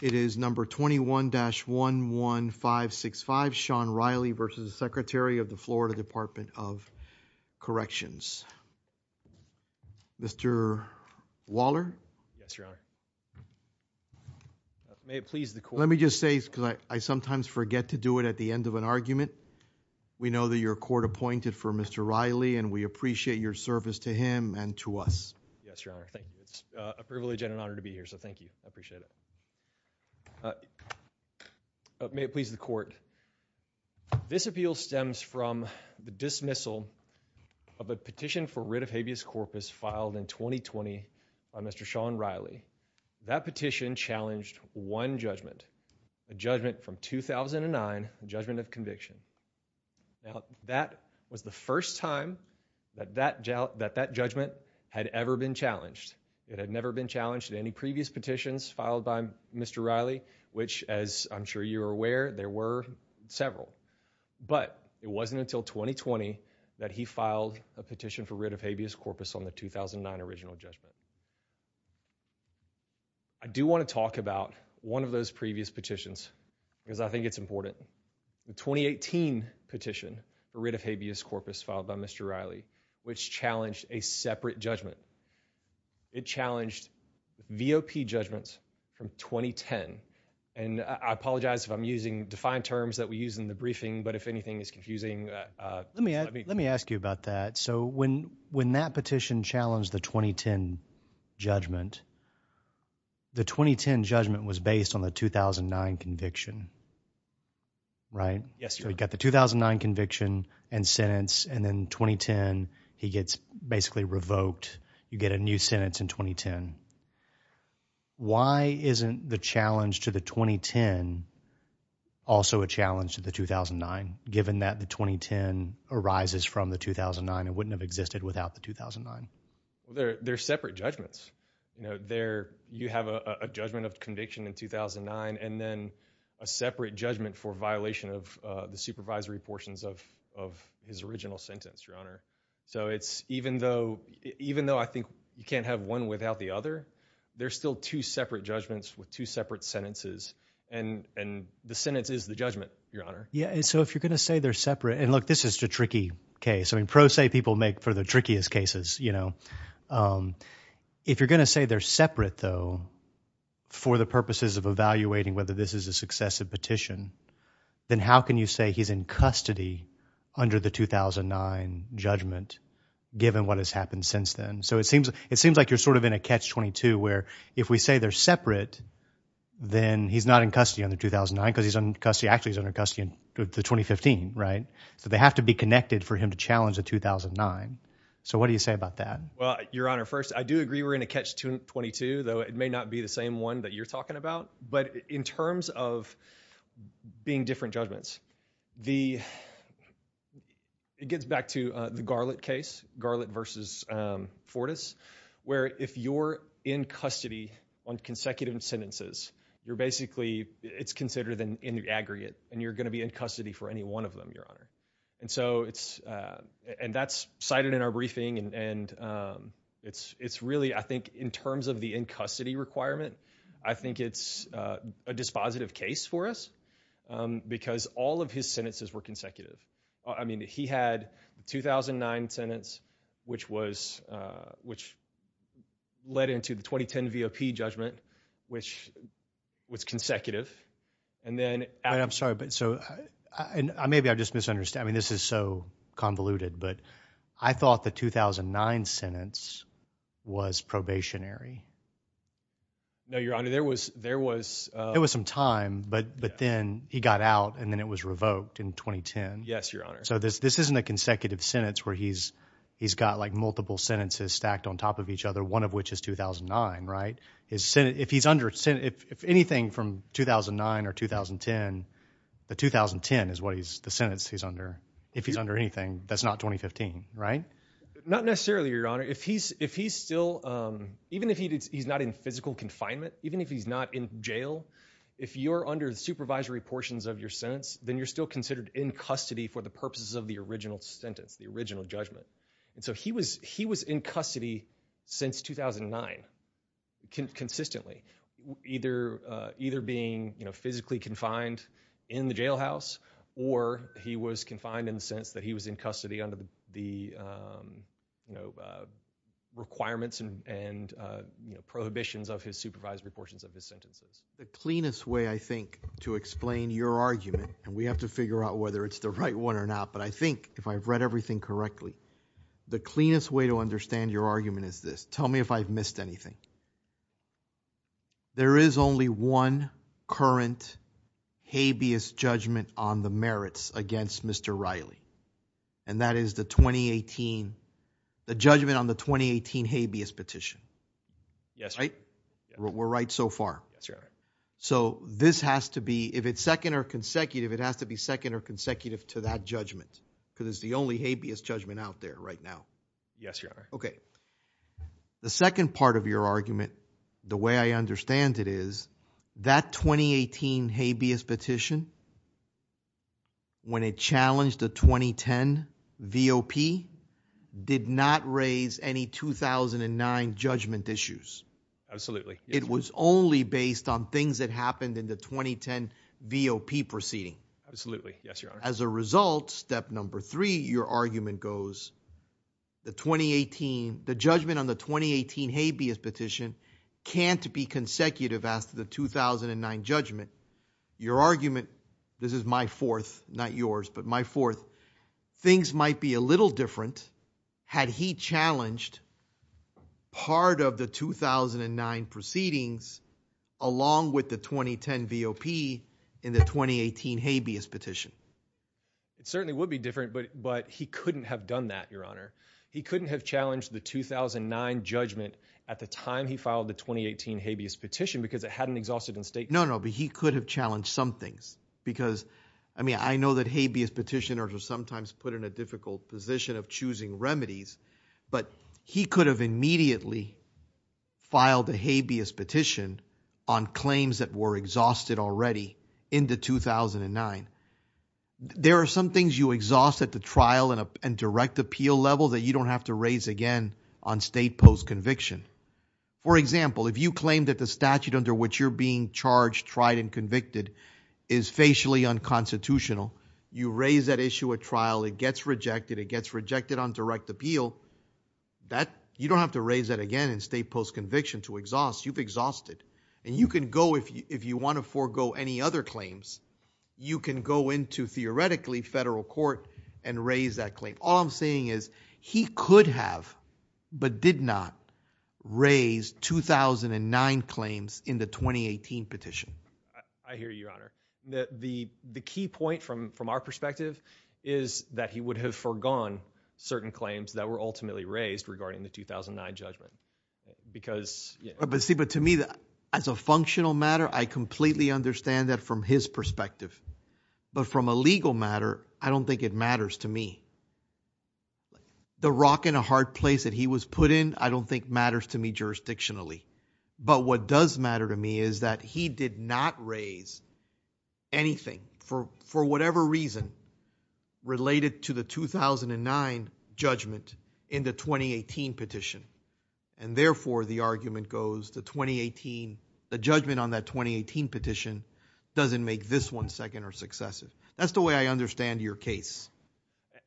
It is number 21-11565, Sean Reilly v. Secretary of the Florida Department of Corrections. Mr. Waller. Yes, Your Honor. May it please the Court. Let me just say, because I sometimes forget to do it at the end of an argument, we know that you're court appointed for Mr. Reilly and we appreciate your service to him and to us. Yes, Your Honor. Thank you. It's a privilege and an honor to be here, so thank you. I appreciate it. May it please the Court. This appeal stems from the dismissal of a petition for writ of habeas corpus filed in 2020 by Mr. Sean Reilly. That petition challenged one judgment, a judgment from 2009, the judgment of conviction. Now, that was the first time that that judgment had ever been challenged. It had never been challenged in any previous petitions filed by Mr. Reilly, which, as I'm sure you're aware, there were several. But it wasn't until 2020 that he filed a petition for writ of habeas corpus on the 2009 original judgment. I do want to talk about one of those previous petitions because I think it's important. The 2018 petition for writ of habeas corpus filed by Mr. Reilly, which challenged a separate judgment. It challenged V.O.P. judgments from 2010. And I apologize if I'm using defined terms that we use in the briefing, but if anything is confusing. Let me ask you about that. So when when that petition challenged the 2010 judgment, the 2010 judgment was based on the 2009 conviction. Right? Yes, Your Honor. You've got the 2009 conviction and sentence, and then 2010, he gets basically revoked. You get a new sentence in 2010. Why isn't the challenge to the 2010 also a challenge to the 2009, given that the 2010 arises from the 2009 and wouldn't have existed without the 2009? They're separate judgments. You know, there you have a judgment of conviction in 2009 and then a separate judgment for violation of the supervisory portions of of his original sentence, Your Honor. So it's even though even though I think you can't have one without the other, there's still two separate judgments with two separate sentences. And the sentence is the judgment, Your Honor. Yeah. So if you're going to say they're separate and look, this is a tricky case. I mean, pro se people make for the trickiest cases, you the purposes of evaluating whether this is a successive petition, then how can you say he's in custody under the 2009 judgment, given what has happened since then? So it seems it seems like you're sort of in a catch 22, where if we say they're separate, then he's not in custody on the 2009 because he's in custody. Actually, he's under custody in 2015. Right. So they have to be connected for him to challenge the 2009. So what do you say about that? Well, Your Honor, first, I do agree we're going to catch 22, though it may not be the same one that you're talking about. But in terms of being different judgments, the it gets back to the garlic case, garlic versus Fortis, where if you're in custody on consecutive sentences, you're basically it's considered an aggregate and you're going to be in custody for any one of them, Your Honor. And so it's and that's cited in our city requirement. I think it's a dispositive case for us because all of his sentences were consecutive. I mean, he had 2009 sentence, which was which led into the 2010 V.O.P. judgment, which was consecutive. And then I'm sorry, but so maybe I just misunderstand. I mean, this is so convoluted, but I thought the 2009 sentence was probationary. No, Your Honor, there was there was there was some time, but but then he got out and then it was revoked in 2010. Yes, Your Honor. So this this isn't a consecutive sentence where he's he's got like multiple sentences stacked on top of each other, one of which is 2009. Right. His Senate, if he's under Senate, if anything from 2009 or 2010, the 2010 is what he's the if he's under anything that's not 2015. Right. Not necessarily, Your Honor. If he's if he's still even if he's not in physical confinement, even if he's not in jail, if you're under the supervisory portions of your sentence, then you're still considered in custody for the purposes of the original sentence, the original judgment. And so he was he was in custody since 2009 consistently, either either being physically confined in the jailhouse or he was confined in the sense that he was in custody under the, you know, requirements and prohibitions of his supervisory portions of his sentences. The cleanest way, I think, to explain your argument, and we have to figure out whether it's the right one or not, but I think if I've read everything correctly, the cleanest way to understand your argument is this. Tell me if I've missed anything. There is only one current habeas judgment on the merits against Mr. Riley, and that is the 2018 the judgment on the 2018 habeas petition. Yes. Right. We're right so far. So this has to be if it's second or consecutive, it has to be second or consecutive to that judgment because it's the only habeas judgment out there right now. Yes, Your Honor. Okay. The second part of your argument, the way I understand it is that 2018 habeas petition when it challenged the 2010 VOP did not raise any 2009 judgment issues. Absolutely. It was only based on things that happened in the 2010 VOP proceeding. Absolutely. Yes, Your Honor. As a result, step number three, your argument goes, the 2018, the judgment on the 2018 habeas petition can't be consecutive as to the 2009 judgment. Your argument, this is my fourth, not yours, but my fourth, things might be a little different had he challenged part of the 2009 proceedings along with the 2010 VOP in the 2018 habeas petition. It certainly would be different, but he couldn't have done that, Your Honor. He couldn't have challenged the 2009 judgment at the time he filed the 2018 habeas petition because it hadn't exhausted in state. No, no, but he could have challenged some things because, I mean, I know that habeas petitioners are sometimes put in a difficult position of choosing remedies, but he could have immediately filed a habeas petition on claims that were exhausted already in the 2009. There are some things you exhaust at the trial and direct appeal level that you don't have to raise again on state post-conviction. For example, if you claim that the statute under which you're being charged, tried, and convicted is facially unconstitutional, you raise that issue at trial, it gets rejected, it gets rejected on direct appeal, you don't have to raise that again in state post-conviction to exhaust. You've exhausted, and you can go, if you want to forego any other claims, you can go into, theoretically, federal court and raise that claim. All I'm saying is he could have, but did not, raise 2009 claims in the 2018 petition. I hear you, Your Honor. The key point, from our perspective, is that he would have foregone certain claims that were ultimately raised regarding the 2009 judgment because... See, but to me, as a functional matter, I completely understand that from his perspective. But from a legal matter, I don't think it matters to me. The rock and a hard place that he was put in, I don't think matters to me jurisdictionally. But what does matter to me is that he did not raise anything, for whatever reason, related to the 2009 judgment in the 2018 petition. And therefore, the argument goes, the 2018, the judgment on that 2018 petition doesn't make this one second or successive. That's the way I understand your case.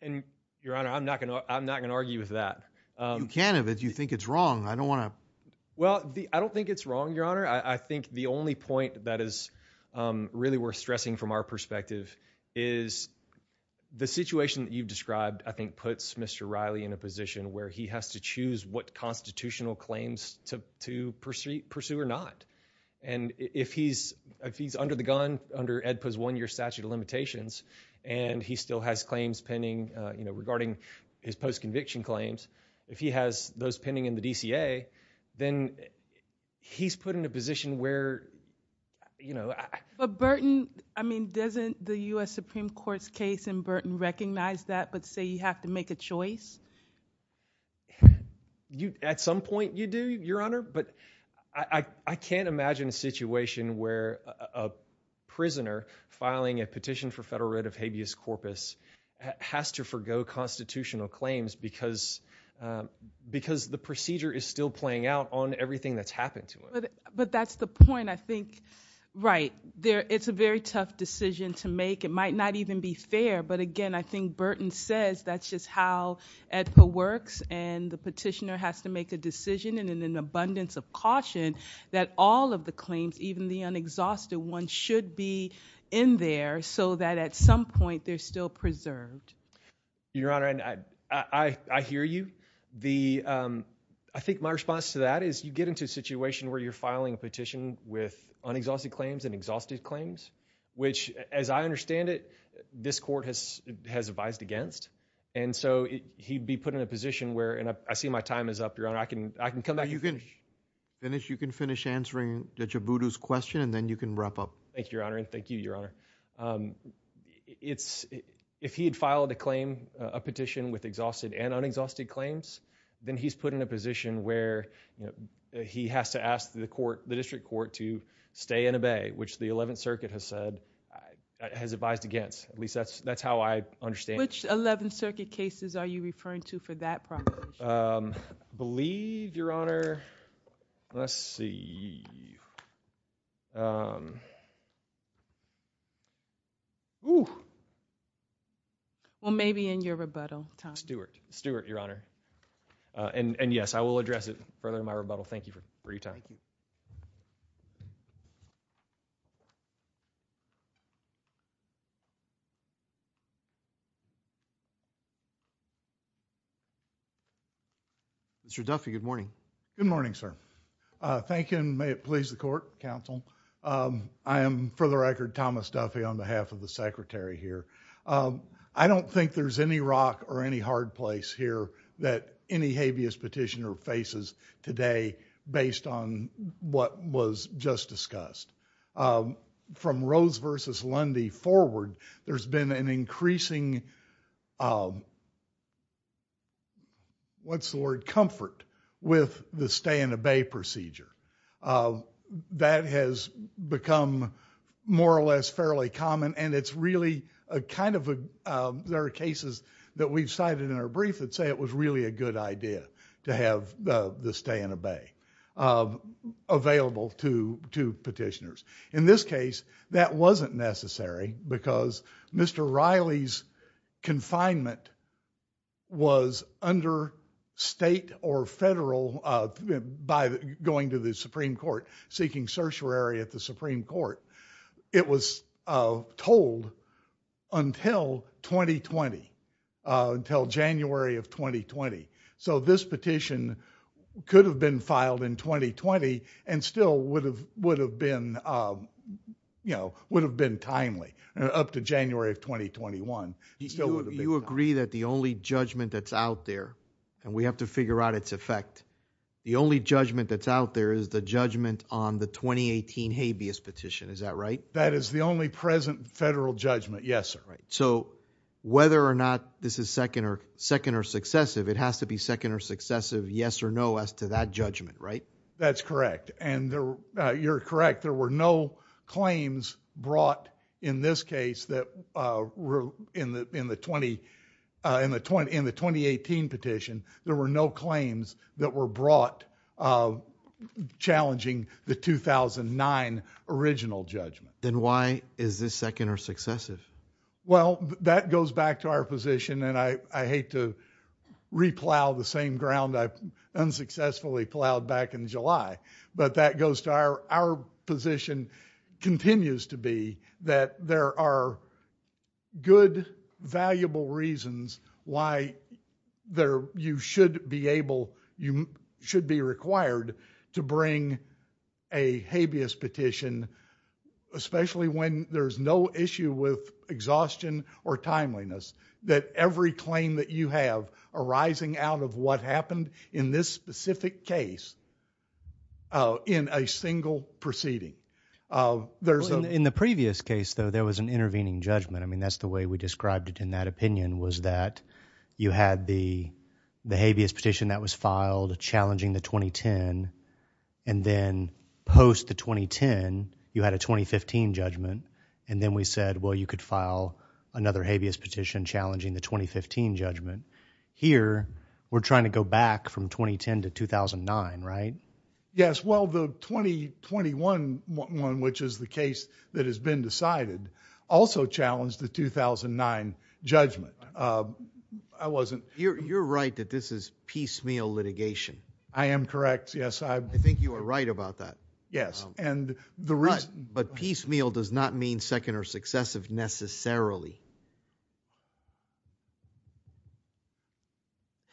And, Your Honor, I'm not going to argue with that. You can't have it. You think it's wrong. I don't want to... Well, I don't think it's wrong, Your Honor. I think the only point that is really worth stressing, from our perspective, is the situation that you've described, I think, puts Mr. Riley in a position where he has to choose what constitutional claims to pursue or not. And if he's under the gun, under AEDPA's one-year statute of limitations, and he still has claims pending, you know, regarding his post-conviction claims, if he has those pending in the DCA, then he's put in a position where, you know... But Burton, I mean, doesn't the U.S. Supreme Court's case in Burton recognize that, but say you have to make a choice? At some point you do, Your Honor, but I can't imagine a situation where a prisoner filing a petition for federal writ of habeas corpus has to forego constitutional claims because the procedure is still playing out on everything that's happened to him. But that's the point, I think. Right. It's a very tough decision to make. It might not even be fair, but again, I think Burton says that's just how AEDPA works, and the petitioner has to make a decision and in an abundance of caution that all of the claims, even the unexhausted ones, should be in there so that at some point they're still preserved. Your Honor, I hear you. I think my response to that is you get into a situation where you're filing a petition with unexhausted claims and has advised against, and so he'd be put in a position where, and I see my time is up, Your Honor, I can come back... You can finish answering Judge Abudu's question and then you can wrap up. Thank you, Your Honor, and thank you, Your Honor. If he had filed a claim, a petition with exhausted and unexhausted claims, then he's put in a position where he has to ask the court, the district court, to stay and obey, which the 11th Circuit has said, has advised against. At Which 11th Circuit cases are you referring to for that problem? I believe, Your Honor, let's see. Well, maybe in your rebuttal time. Stewart, Your Honor, and yes, I will address it further in my rebuttal. Thank you for your time. Mr. Duffy, good morning. Good morning, sir. Thank you, and may it please the court, counsel. I am, for the record, Thomas Duffy on behalf of the secretary here. I don't think there's any rock or any hard place here that any habeas petitioner faces today based on what was just discussed. From Rose v. Lundy forward, there's been an increasing, what's the word, comfort with the stay and obey procedure. That has become more or less fairly common and it's really a kind of... there are cases that we've cited in our brief that say it was really a good idea to have the stay and obey available to petitioners. In this case, that wasn't necessary because Mr. Riley's confinement was under state or federal, by going to the Supreme Court, seeking certiorari at the Supreme Court. It was told until 2020, until January of 2020. This petition could have been filed in 2020 and still would have been timely up to January of 2021. You agree that the only judgment that's out there, and we have to figure out its effect, the only judgment that's out there is the judgment on the 2018 habeas petition, is that right? That is the only present federal judgment, yes, sir. So whether or not this is second or successive, it has to be second or successive, yes or no, as to that judgment, right? That's correct. You're correct. There were no claims brought in this case, in the 2018 petition, there were no claims that were brought challenging the 2009 original judgment. Then why is this second or successive? Well, that goes back to our position, and I hate to replow the same ground I unsuccessfully plowed back in July, but that goes to our position continues to be that there are good, valuable reasons why you should be able, you should be required to bring a habeas petition, especially when there's no issue with exhaustion or timeliness, that every claim that you have arising out of what happened in this specific case in a single proceeding. In the previous case, though, there was an intervening judgment. I mean, that's the way we described it in that opinion, was that you had the habeas petition that was filed challenging the 2010, and then post the 2010, you had a 2015 judgment, and then we said, well, you could file another habeas petition challenging the 2015 judgment. Here, we're trying to go back from 2010 to 2009, right? Yes, well, the 2021 one, which is the case that has been decided, also challenged the 2009 judgment. I wasn't... You're right that this is piecemeal litigation. I am correct, yes. I think you are right about that. Yes, and the reason... But piecemeal does not mean second or successive necessarily.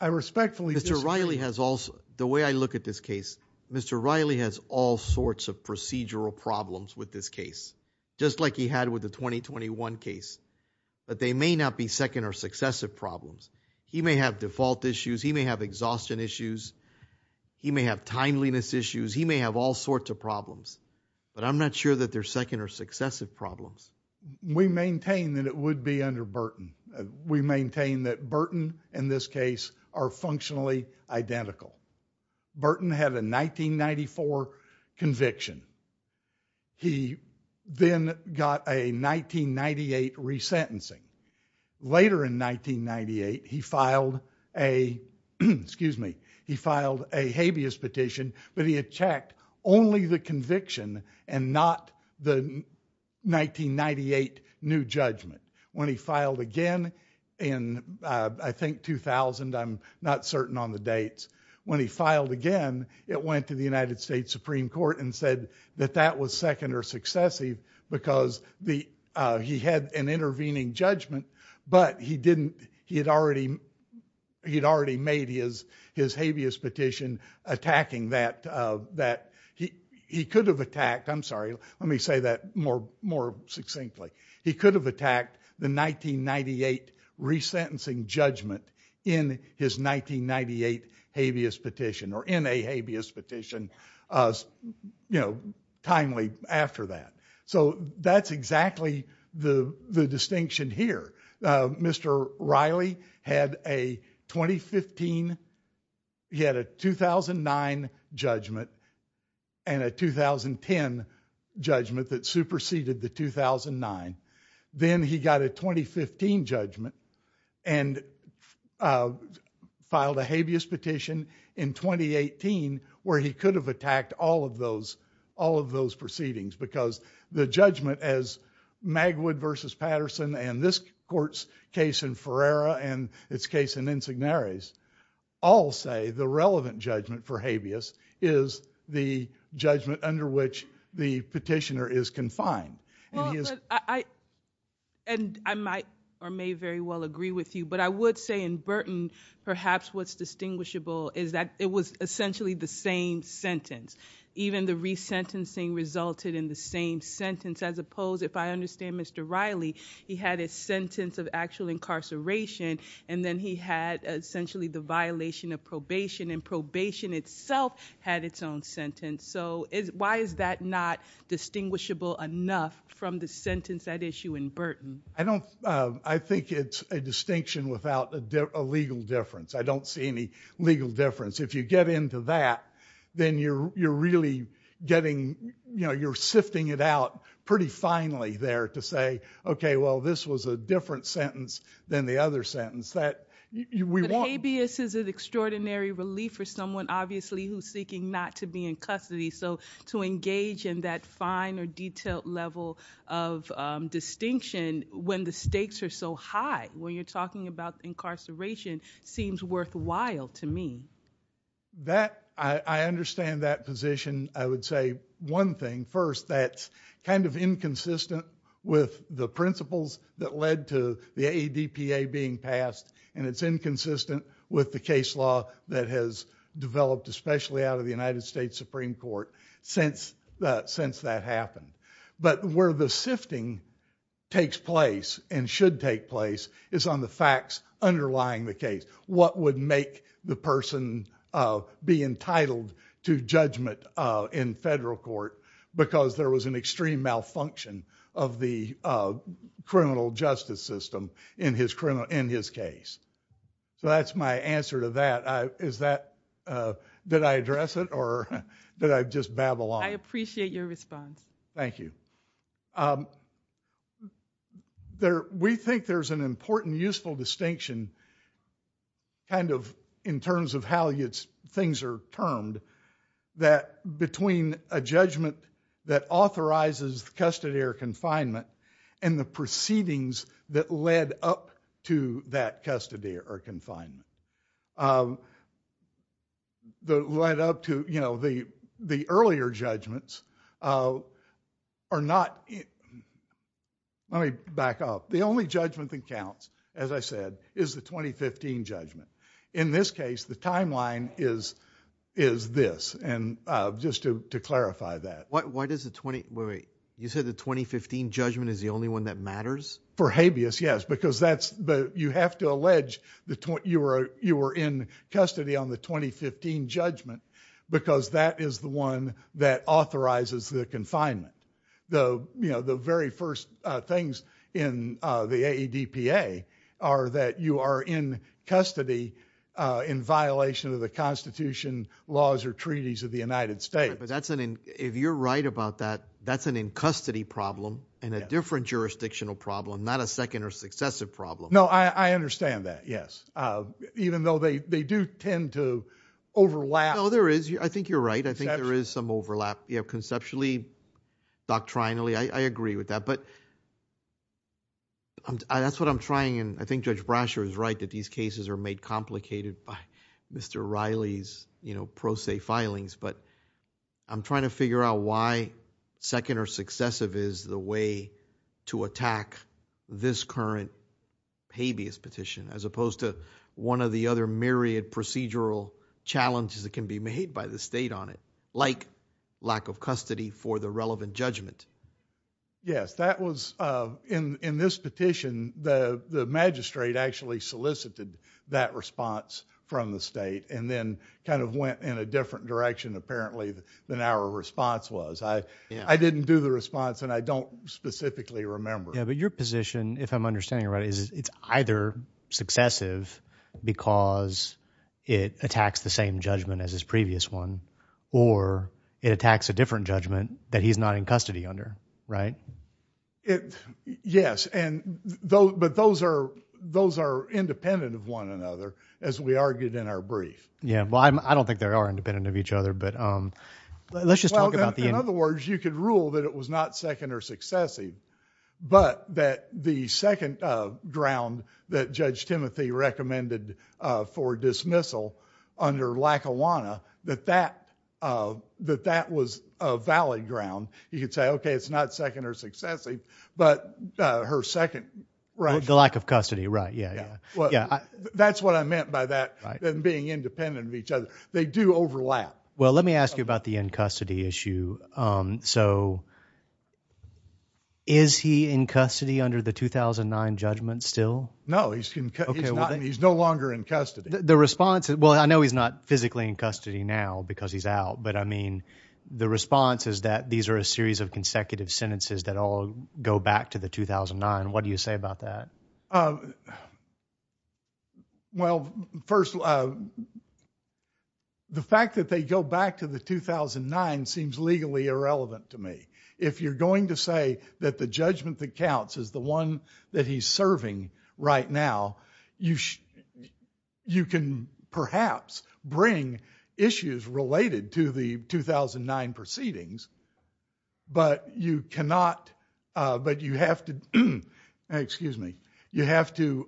I respectfully disagree. Mr. Riley has also, the way I look at this case, Mr. Riley has all sorts of procedural problems with this case, just like he had with the 2021 case, but they may not be second or successive problems. He may have default issues. He may have exhaustion issues. He may have timeliness issues. He may have all sorts of problems, but I'm not sure that they're second or successive problems. We maintain that it would be under Burton. We maintain that Burton and this petition, he then got a 1998 resentencing. Later in 1998, he filed a habeas petition, but he had checked only the conviction and not the 1998 new judgment. When he filed again in, I think, 2000, I'm not certain on the dates. When he filed again, it went to the United States Supreme Court and that that was second or successive because he had an intervening judgment, but he had already made his habeas petition attacking that. He could have attacked, I'm sorry, let me say that more succinctly. He could have attacked the 1998 resentencing judgment in his 1998 habeas petition or in a habeas petition, you know, timely after that. So that's exactly the distinction here. Mr. Riley had a 2015, he had a 2009 judgment and a 2010 judgment that superseded the 2009. Then he got a 2015 judgment and filed a habeas petition in 2018 where he could have attacked all of those proceedings because the judgment as Magwood versus Patterson and this court's case in Ferreira and its case in Insignares all say the relevant judgment for habeas is the And I might or may very well agree with you, but I would say in Burton perhaps what's distinguishable is that it was essentially the same sentence. Even the resentencing resulted in the same sentence as opposed, if I understand Mr. Riley, he had a sentence of actual incarceration and then he had essentially the violation of probation and probation itself had its own sentence. So why is that not distinguishable enough from the sentence at issue in Burton? I don't, I think it's a distinction without a legal difference. I don't see any legal difference. If you get into that, then you're really getting, you know, you're sifting it out pretty finely there to say, okay, well, this was a different sentence than the other sentence that we want. Habeas is an extraordinary relief for someone obviously who's seeking not be in custody. So to engage in that fine or detailed level of distinction when the stakes are so high, when you're talking about incarceration, seems worthwhile to me. That, I understand that position. I would say one thing first, that's kind of inconsistent with the principles that led to the ADPA being passed and it's inconsistent with the case law that has developed especially out of the United States Supreme Court since that happened. But where the sifting takes place and should take place is on the facts underlying the case. What would make the person be entitled to judgment in federal court because there was an extreme malfunction of the criminal justice system in his criminal, in his case. So that's my answer to that. Is that, did I address it or did I just babble on? I appreciate your response. Thank you. There, we think there's an important useful distinction kind of in terms of how its things are termed that between a judgment that authorizes custody or confinement and the proceedings that led up to that custody or confinement. The led up to, you know, the earlier judgments are not, let me back up. The only judgment that counts, as I said, is the 2015 judgment. In this case, the timeline is this. And just to clarify that. Why does the 20, wait, you said the 2015 judgment is the only one that matters? For habeas, yes. Because that's, but you have to allege the, you were in custody on the 2015 judgment because that is the one that authorizes the confinement. The, you know, the very first things in the ADPA are that you are in custody in violation of the constitution laws or treaties of the United States. But that's an, if you're right about that, that's an in custody problem and a different jurisdictional problem, not a second or successive problem. No, I understand that. Yes. Even though they do tend to overlap. No, there is. I think you're right. I think there is some overlap. You have conceptually, doctrinally, I agree with that, but that's what I'm trying. And I think Judge Brasher is right that these cases are made complicated by Mr. Riley's, you know, pro se filings, but I'm trying to figure out why second or successive is the way to attack this current habeas petition, as opposed to one of the other myriad procedural challenges that can be made by the state on it, like lack of custody for the relevant judgment. Yes, that was, in this petition, the magistrate actually solicited that response from the state and then kind of went in a different direction, apparently, than our response was. I didn't do the response and I don't specifically remember. Yeah, but your position, if I'm understanding right, is it's either successive because it attacks the same judgment as his previous one, or it attacks a different judgment that he's not in custody under, right? Yes, but those are independent of one another, as we argued in our brief. Yeah, well, I don't think they are independent of each other, but let's just talk about the— In other words, you could rule that it was not second or successive, but that the second ground that Judge Timothy recommended for dismissal under Lackawanna, that that was a valid ground. You could say, okay, it's not second or successive, but her second— The lack of custody, right, yeah. That's what I meant by that, them being independent of each other. They do overlap. Well, let me ask you about the in-custody issue. So, is he in custody under the 2009 judgment still? No, he's no longer in custody. The response, well, I know he's not physically in custody now because he's out, but I mean, the response is that these are a series of consecutive sentences that all go back to the 2009. What do you say about that? Well, first, the fact that they go back to the 2009 seems legally irrelevant to me. If you're going to say that the judgment that counts is the one that he's serving right now, you can perhaps bring issues related to the 2009 proceedings, but you cannot, but you have to, excuse me, you have to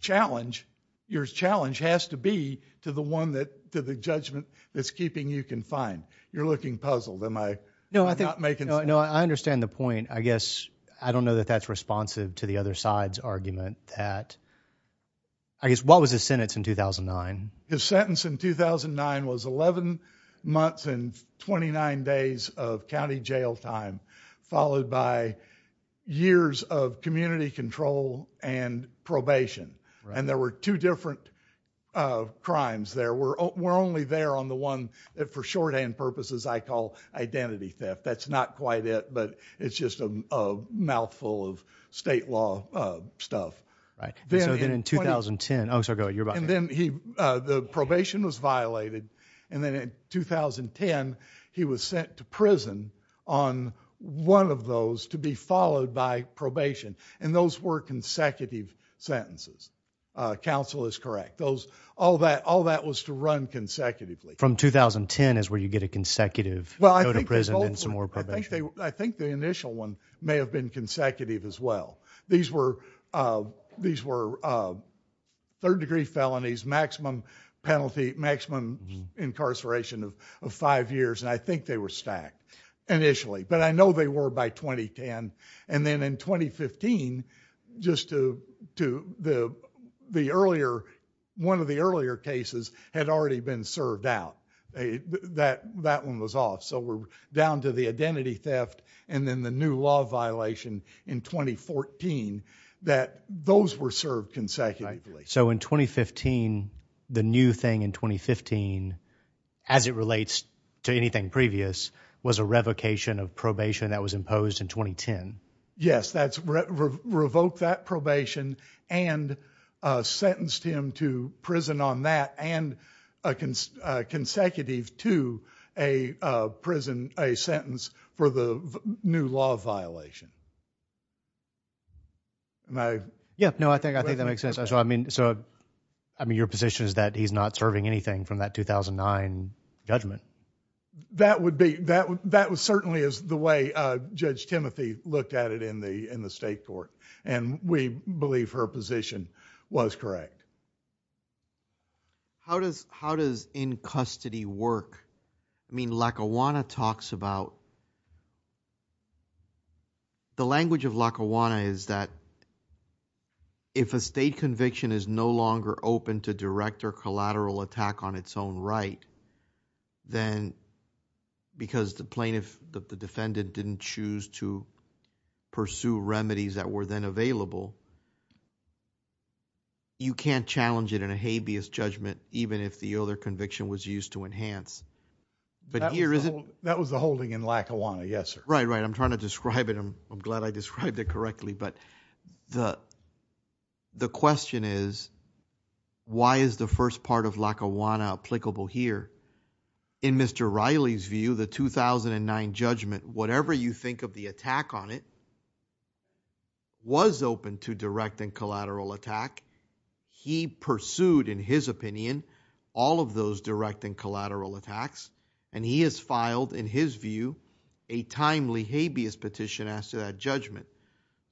challenge, your challenge has to be to the one that, to the judgment that's keeping you confined. You're looking puzzled. Am I not making sense? No, I understand the point. I guess, I don't know that that's responsive to the other side's that. I guess, what was his sentence in 2009? His sentence in 2009 was 11 months and 29 days of county jail time, followed by years of community control and probation. And there were two different crimes there. We're only there on the one that for shorthand purposes, I call identity theft. That's not quite it, but it's just a mouthful of state law stuff. Right. So then in 2010, oh, sorry, go ahead, you're back. And then he, the probation was violated. And then in 2010, he was sent to prison on one of those to be followed by probation. And those were consecutive sentences. Counsel is correct. Those, all that, all that was to run consecutively. From 2010 is where you get a consecutive prison and some more probation. I think the initial one may have been consecutive as well. These were third degree felonies, maximum penalty, maximum incarceration of five years. And I think they were stacked initially, but I know they were by 2010. And then in 2015, just to the earlier, one of the earlier cases had already been served out. That, that one was off. So we're down to the identity theft and then the new law violation in 2014, that those were served consecutively. So in 2015, the new thing in 2015, as it relates to anything previous, was a revocation of probation that was imposed in 2010. Yes, that's revoked that probation and sentenced him to prison on that and a consecutive to a prison, a sentence for the new law violation. Yep. No, I think, I think that makes sense. So, I mean, so, I mean, your position is that he's not serving anything from that 2009 judgment. That would be, that, that was certainly as the Judge Timothy looked at it in the, in the state court and we believe her position was correct. How does, how does in custody work? I mean, Lackawanna talks about, the language of Lackawanna is that if a state conviction is no longer open to direct or didn't choose to pursue remedies that were then available, you can't challenge it in a habeas judgment, even if the other conviction was used to enhance. But here is, that was the holding in Lackawanna. Yes, sir. Right, right. I'm trying to describe it. I'm, I'm glad I described it correctly, but the, the question is, why is the first part of Lackawanna applicable here in Mr. Riley's view, the 2009 judgment, whatever you think of the attack on it, was open to direct and collateral attack. He pursued, in his opinion, all of those direct and collateral attacks and he has filed in his view, a timely habeas petition as to that judgment.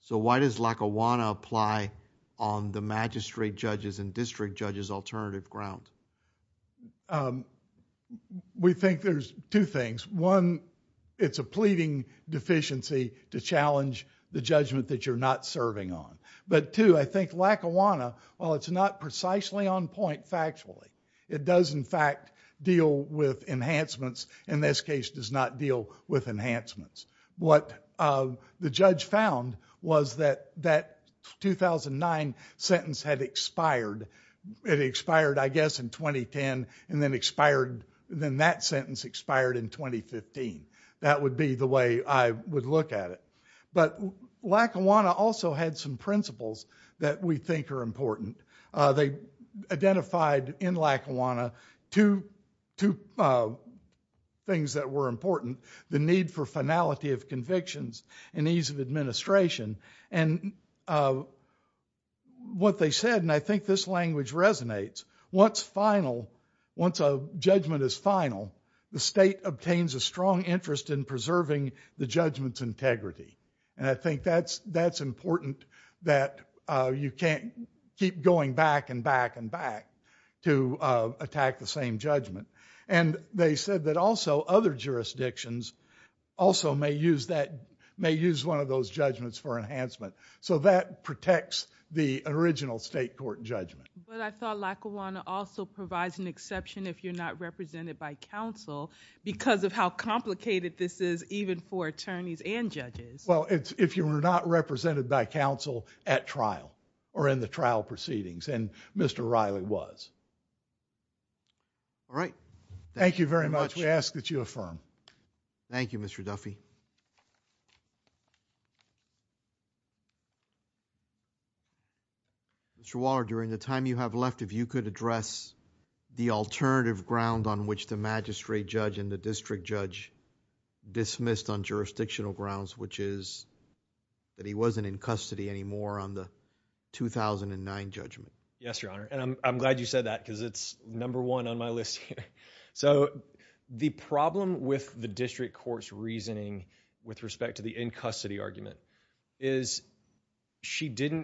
So, why does Lackawanna apply on the magistrate judges and district judges alternative ground? Well, we think there's two things. One, it's a pleading deficiency to challenge the judgment that you're not serving on. But two, I think Lackawanna, while it's not precisely on point factually, it does in fact deal with enhancements, in this case does not deal with enhancements. What the judge found was that that 2009 sentence had expired. It expired, I guess, in 2010 and then expired, then that sentence expired in 2015. That would be the way I would look at it. But Lackawanna also had some principles that we think are important. They identified in Lackawanna two things that were important. The need for finality of convictions and ease of administration and what they said, and I think this language resonates, once a judgment is final, the state obtains a strong interest in preserving the judgment's integrity. I think that's important that you can't keep going back and back and back to attack the same judgment. And they said that also other jurisdictions also may use one of those judgments for enhancement. So that protects the original state court judgment. But I thought Lackawanna also provides an exception if you're not represented by counsel because of how complicated this is even for attorneys and judges. Well, if you were not represented by counsel at trial or in the trial proceedings, and Mr. Riley was. All right. Thank you very much. We ask that you affirm. Thank you, Mr. Duffy. Mr. Waller, during the time you have left, if you could address the alternative ground on which the magistrate judge and the district judge dismissed on jurisdictional grounds, which is that he wasn't in custody anymore on the 2009 judgment. Yes, Your Honor. And I'm glad you said that because it's number one on my list. So the problem with the district court's reasoning with respect to the in custody argument is she sentences,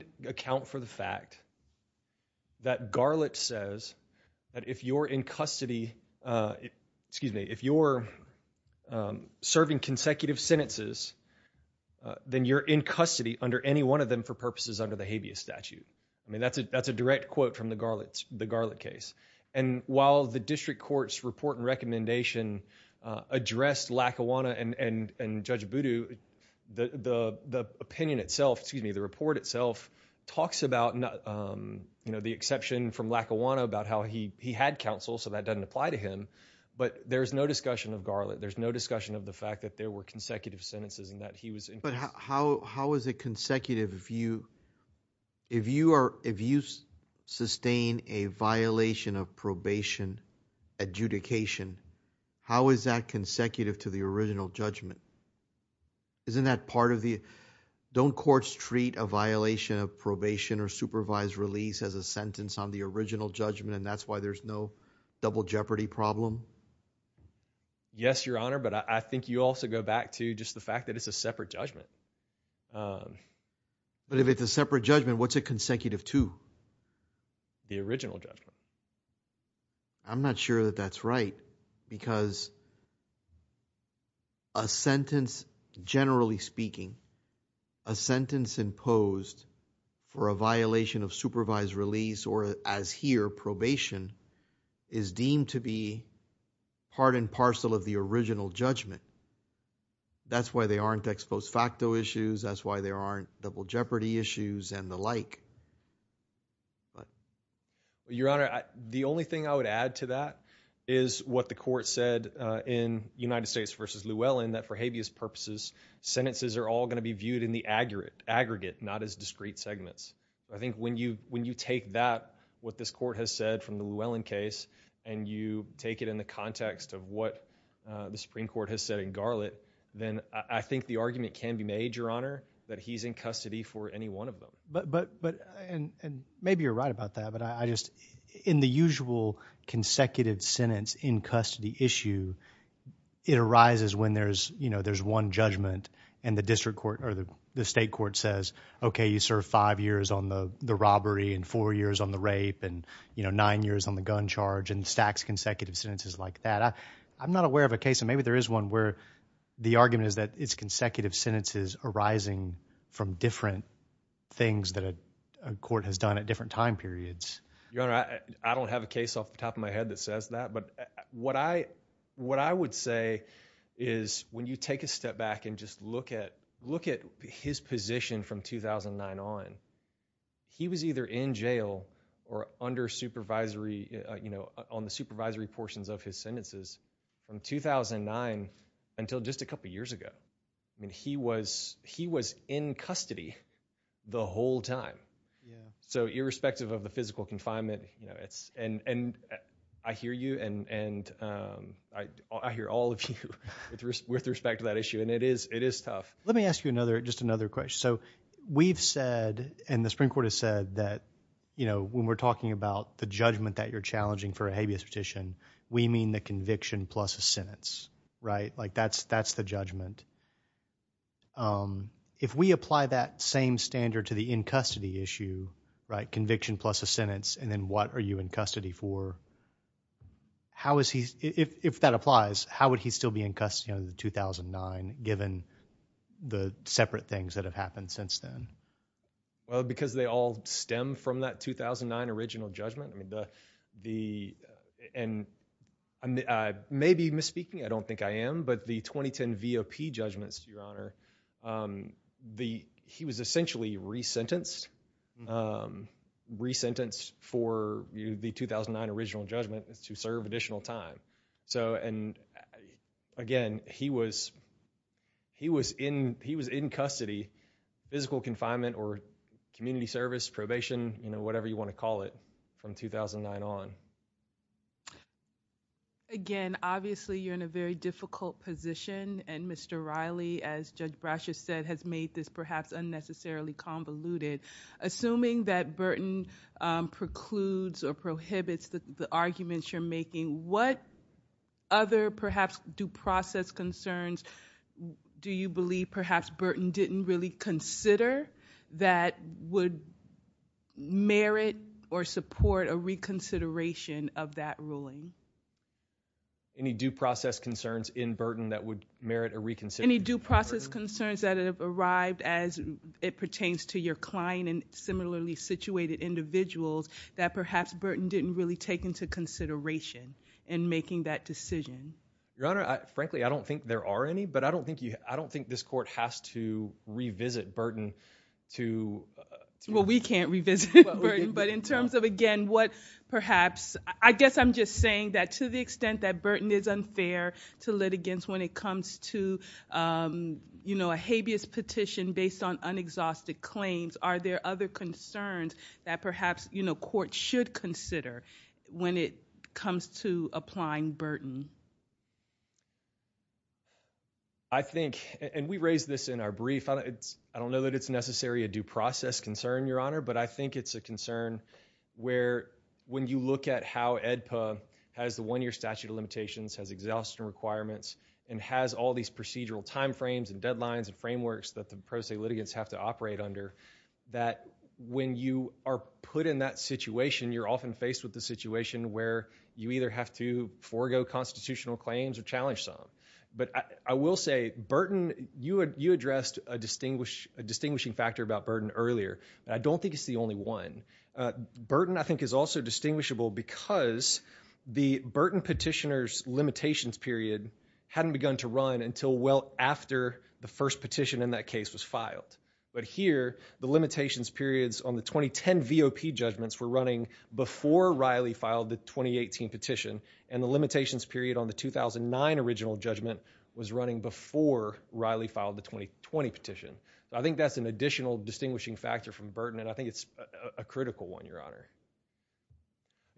then you're in custody under any one of them for purposes under the habeas statute. I mean, that's a that's a direct quote from the Garland, the Garland case. And while the district court's report and recommendation addressed Lackawanna and Judge Voodoo, the opinion itself, excuse me, the report itself talks about, you know, the exception from Lackawanna about how he had counsel. So that doesn't apply to him. But there is no discussion of Garland. There's no there were consecutive sentences and that he was. But how how is it consecutive if you if you are if you sustain a violation of probation adjudication, how is that consecutive to the original judgment? Isn't that part of the don't courts treat a violation of probation or supervised release as a sentence on the original judgment, and that's why there's no double problem? Yes, your honor. But I think you also go back to just the fact that it's a separate judgment. But if it's a separate judgment, what's a consecutive to the original judgment? I'm not sure that that's right, because. A sentence, generally speaking, a sentence imposed for a violation of supervised release or as here probation is deemed to be part and parcel of the original judgment. That's why they aren't ex post facto issues. That's why there aren't double jeopardy issues and the like. But your honor, the only thing I would add to that is what the court said in United States versus Llewellyn that for habeas purposes, sentences are all going to be viewed in the aggregate, not as discrete segments. I think when you take that, what this court has said from the Llewellyn case, and you take it in the context of what the Supreme Court has said in Garlett, then I think the argument can be made, your honor, that he's in custody for any one of them. And maybe you're right about that, but I just in the usual consecutive sentence in custody issue, it arises when there's one judgment and the district court or the state court says, okay, you serve five years on the robbery and four years on the rape and nine years on the gun charge and stacks consecutive sentences like that. I'm not aware of a case, and maybe there is one where the argument is that it's consecutive sentences arising from different things that a court has done at different time periods. Your honor, I don't have a case off the top of my head, but what I would say is when you take a step back and just look at his position from 2009 on, he was either in jail or under supervisory, you know, on the supervisory portions of his sentences from 2009 until just a couple years ago. I mean, he was in custody the whole time. So irrespective of the physical confinement, you know, and I hear you and I hear all of you with respect to that issue, and it is tough. Let me ask you another, just another question. So we've said, and the Supreme Court has said that, you know, when we're talking about the judgment that you're challenging for a habeas petition, we mean the conviction plus a sentence, right? That's the judgment. If we apply that same standard to the in custody issue, right, conviction plus a sentence, and then what are you in custody for, how is he, if that applies, how would he still be in custody in 2009, given the separate things that have happened since then? Well, because they all stem from that 2009 original judgment. The, and I may be misspeaking, I don't think I am, but the 2010 VOP judgments, Your Honor, the, he was essentially re-sentenced, re-sentenced for the 2009 original judgment to serve additional time. So, and again, he was, he was in, he was in custody, physical confinement or community service, probation, you know, whatever you want to put 2009 on. Again, obviously you're in a very difficult position and Mr. Riley, as Judge Brasher said, has made this perhaps unnecessarily convoluted. Assuming that Burton precludes or prohibits the arguments you're making, what other perhaps due process concerns do you believe perhaps Burton didn't really consider that would merit or support a reconsideration of that ruling? Any due process concerns in Burton that would merit a reconsideration? Any due process concerns that have arrived as it pertains to your client and similarly situated individuals that perhaps Burton didn't really take into consideration in making that decision? Your Honor, frankly, I don't think there are any, but I don't think you, I don't think this court has to revisit Burton to... Well, we can't revisit Burton, but in terms of, again, what perhaps, I guess I'm just saying that to the extent that Burton is unfair to litigants when it comes to, you know, a habeas petition based on unexhausted claims, are there other concerns that perhaps, you know, court should consider when it comes to applying Burton? I think, and we raised this in our brief, I don't know that it's necessarily a due process concern, Your Honor, but I think it's a concern where when you look at how AEDPA has the one-year statute of limitations, has exhaustion requirements, and has all these procedural timeframes and deadlines and frameworks that the pro se litigants have to operate under, that when you are put in that situation, you're often faced with the situation where you either have to forego constitutional claims or challenge some. But I will say, Burton, you addressed a distinguish, a distinguishing factor about Burton earlier, and I don't think it's the only one. Burton, I think, is also distinguishable because the Burton petitioner's limitations period hadn't begun to run until well after the first petition in that case was filed. But here, the limitations periods on the 2010 VOP judgments were running before Riley filed the 2018 petition, and the limitations period on the 2009 original judgment was running before Riley filed the 2020 petition. I think that's an additional distinguishing factor from Burton, and I think it's a critical one, Your Honor.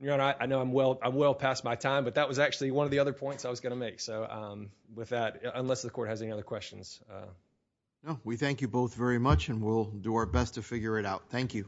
Your Honor, I know I'm well past my time, but that was actually one of the other So, with that, unless the Court has any other questions. No, we thank you both very much, and we'll do our best to figure it out. Thank you.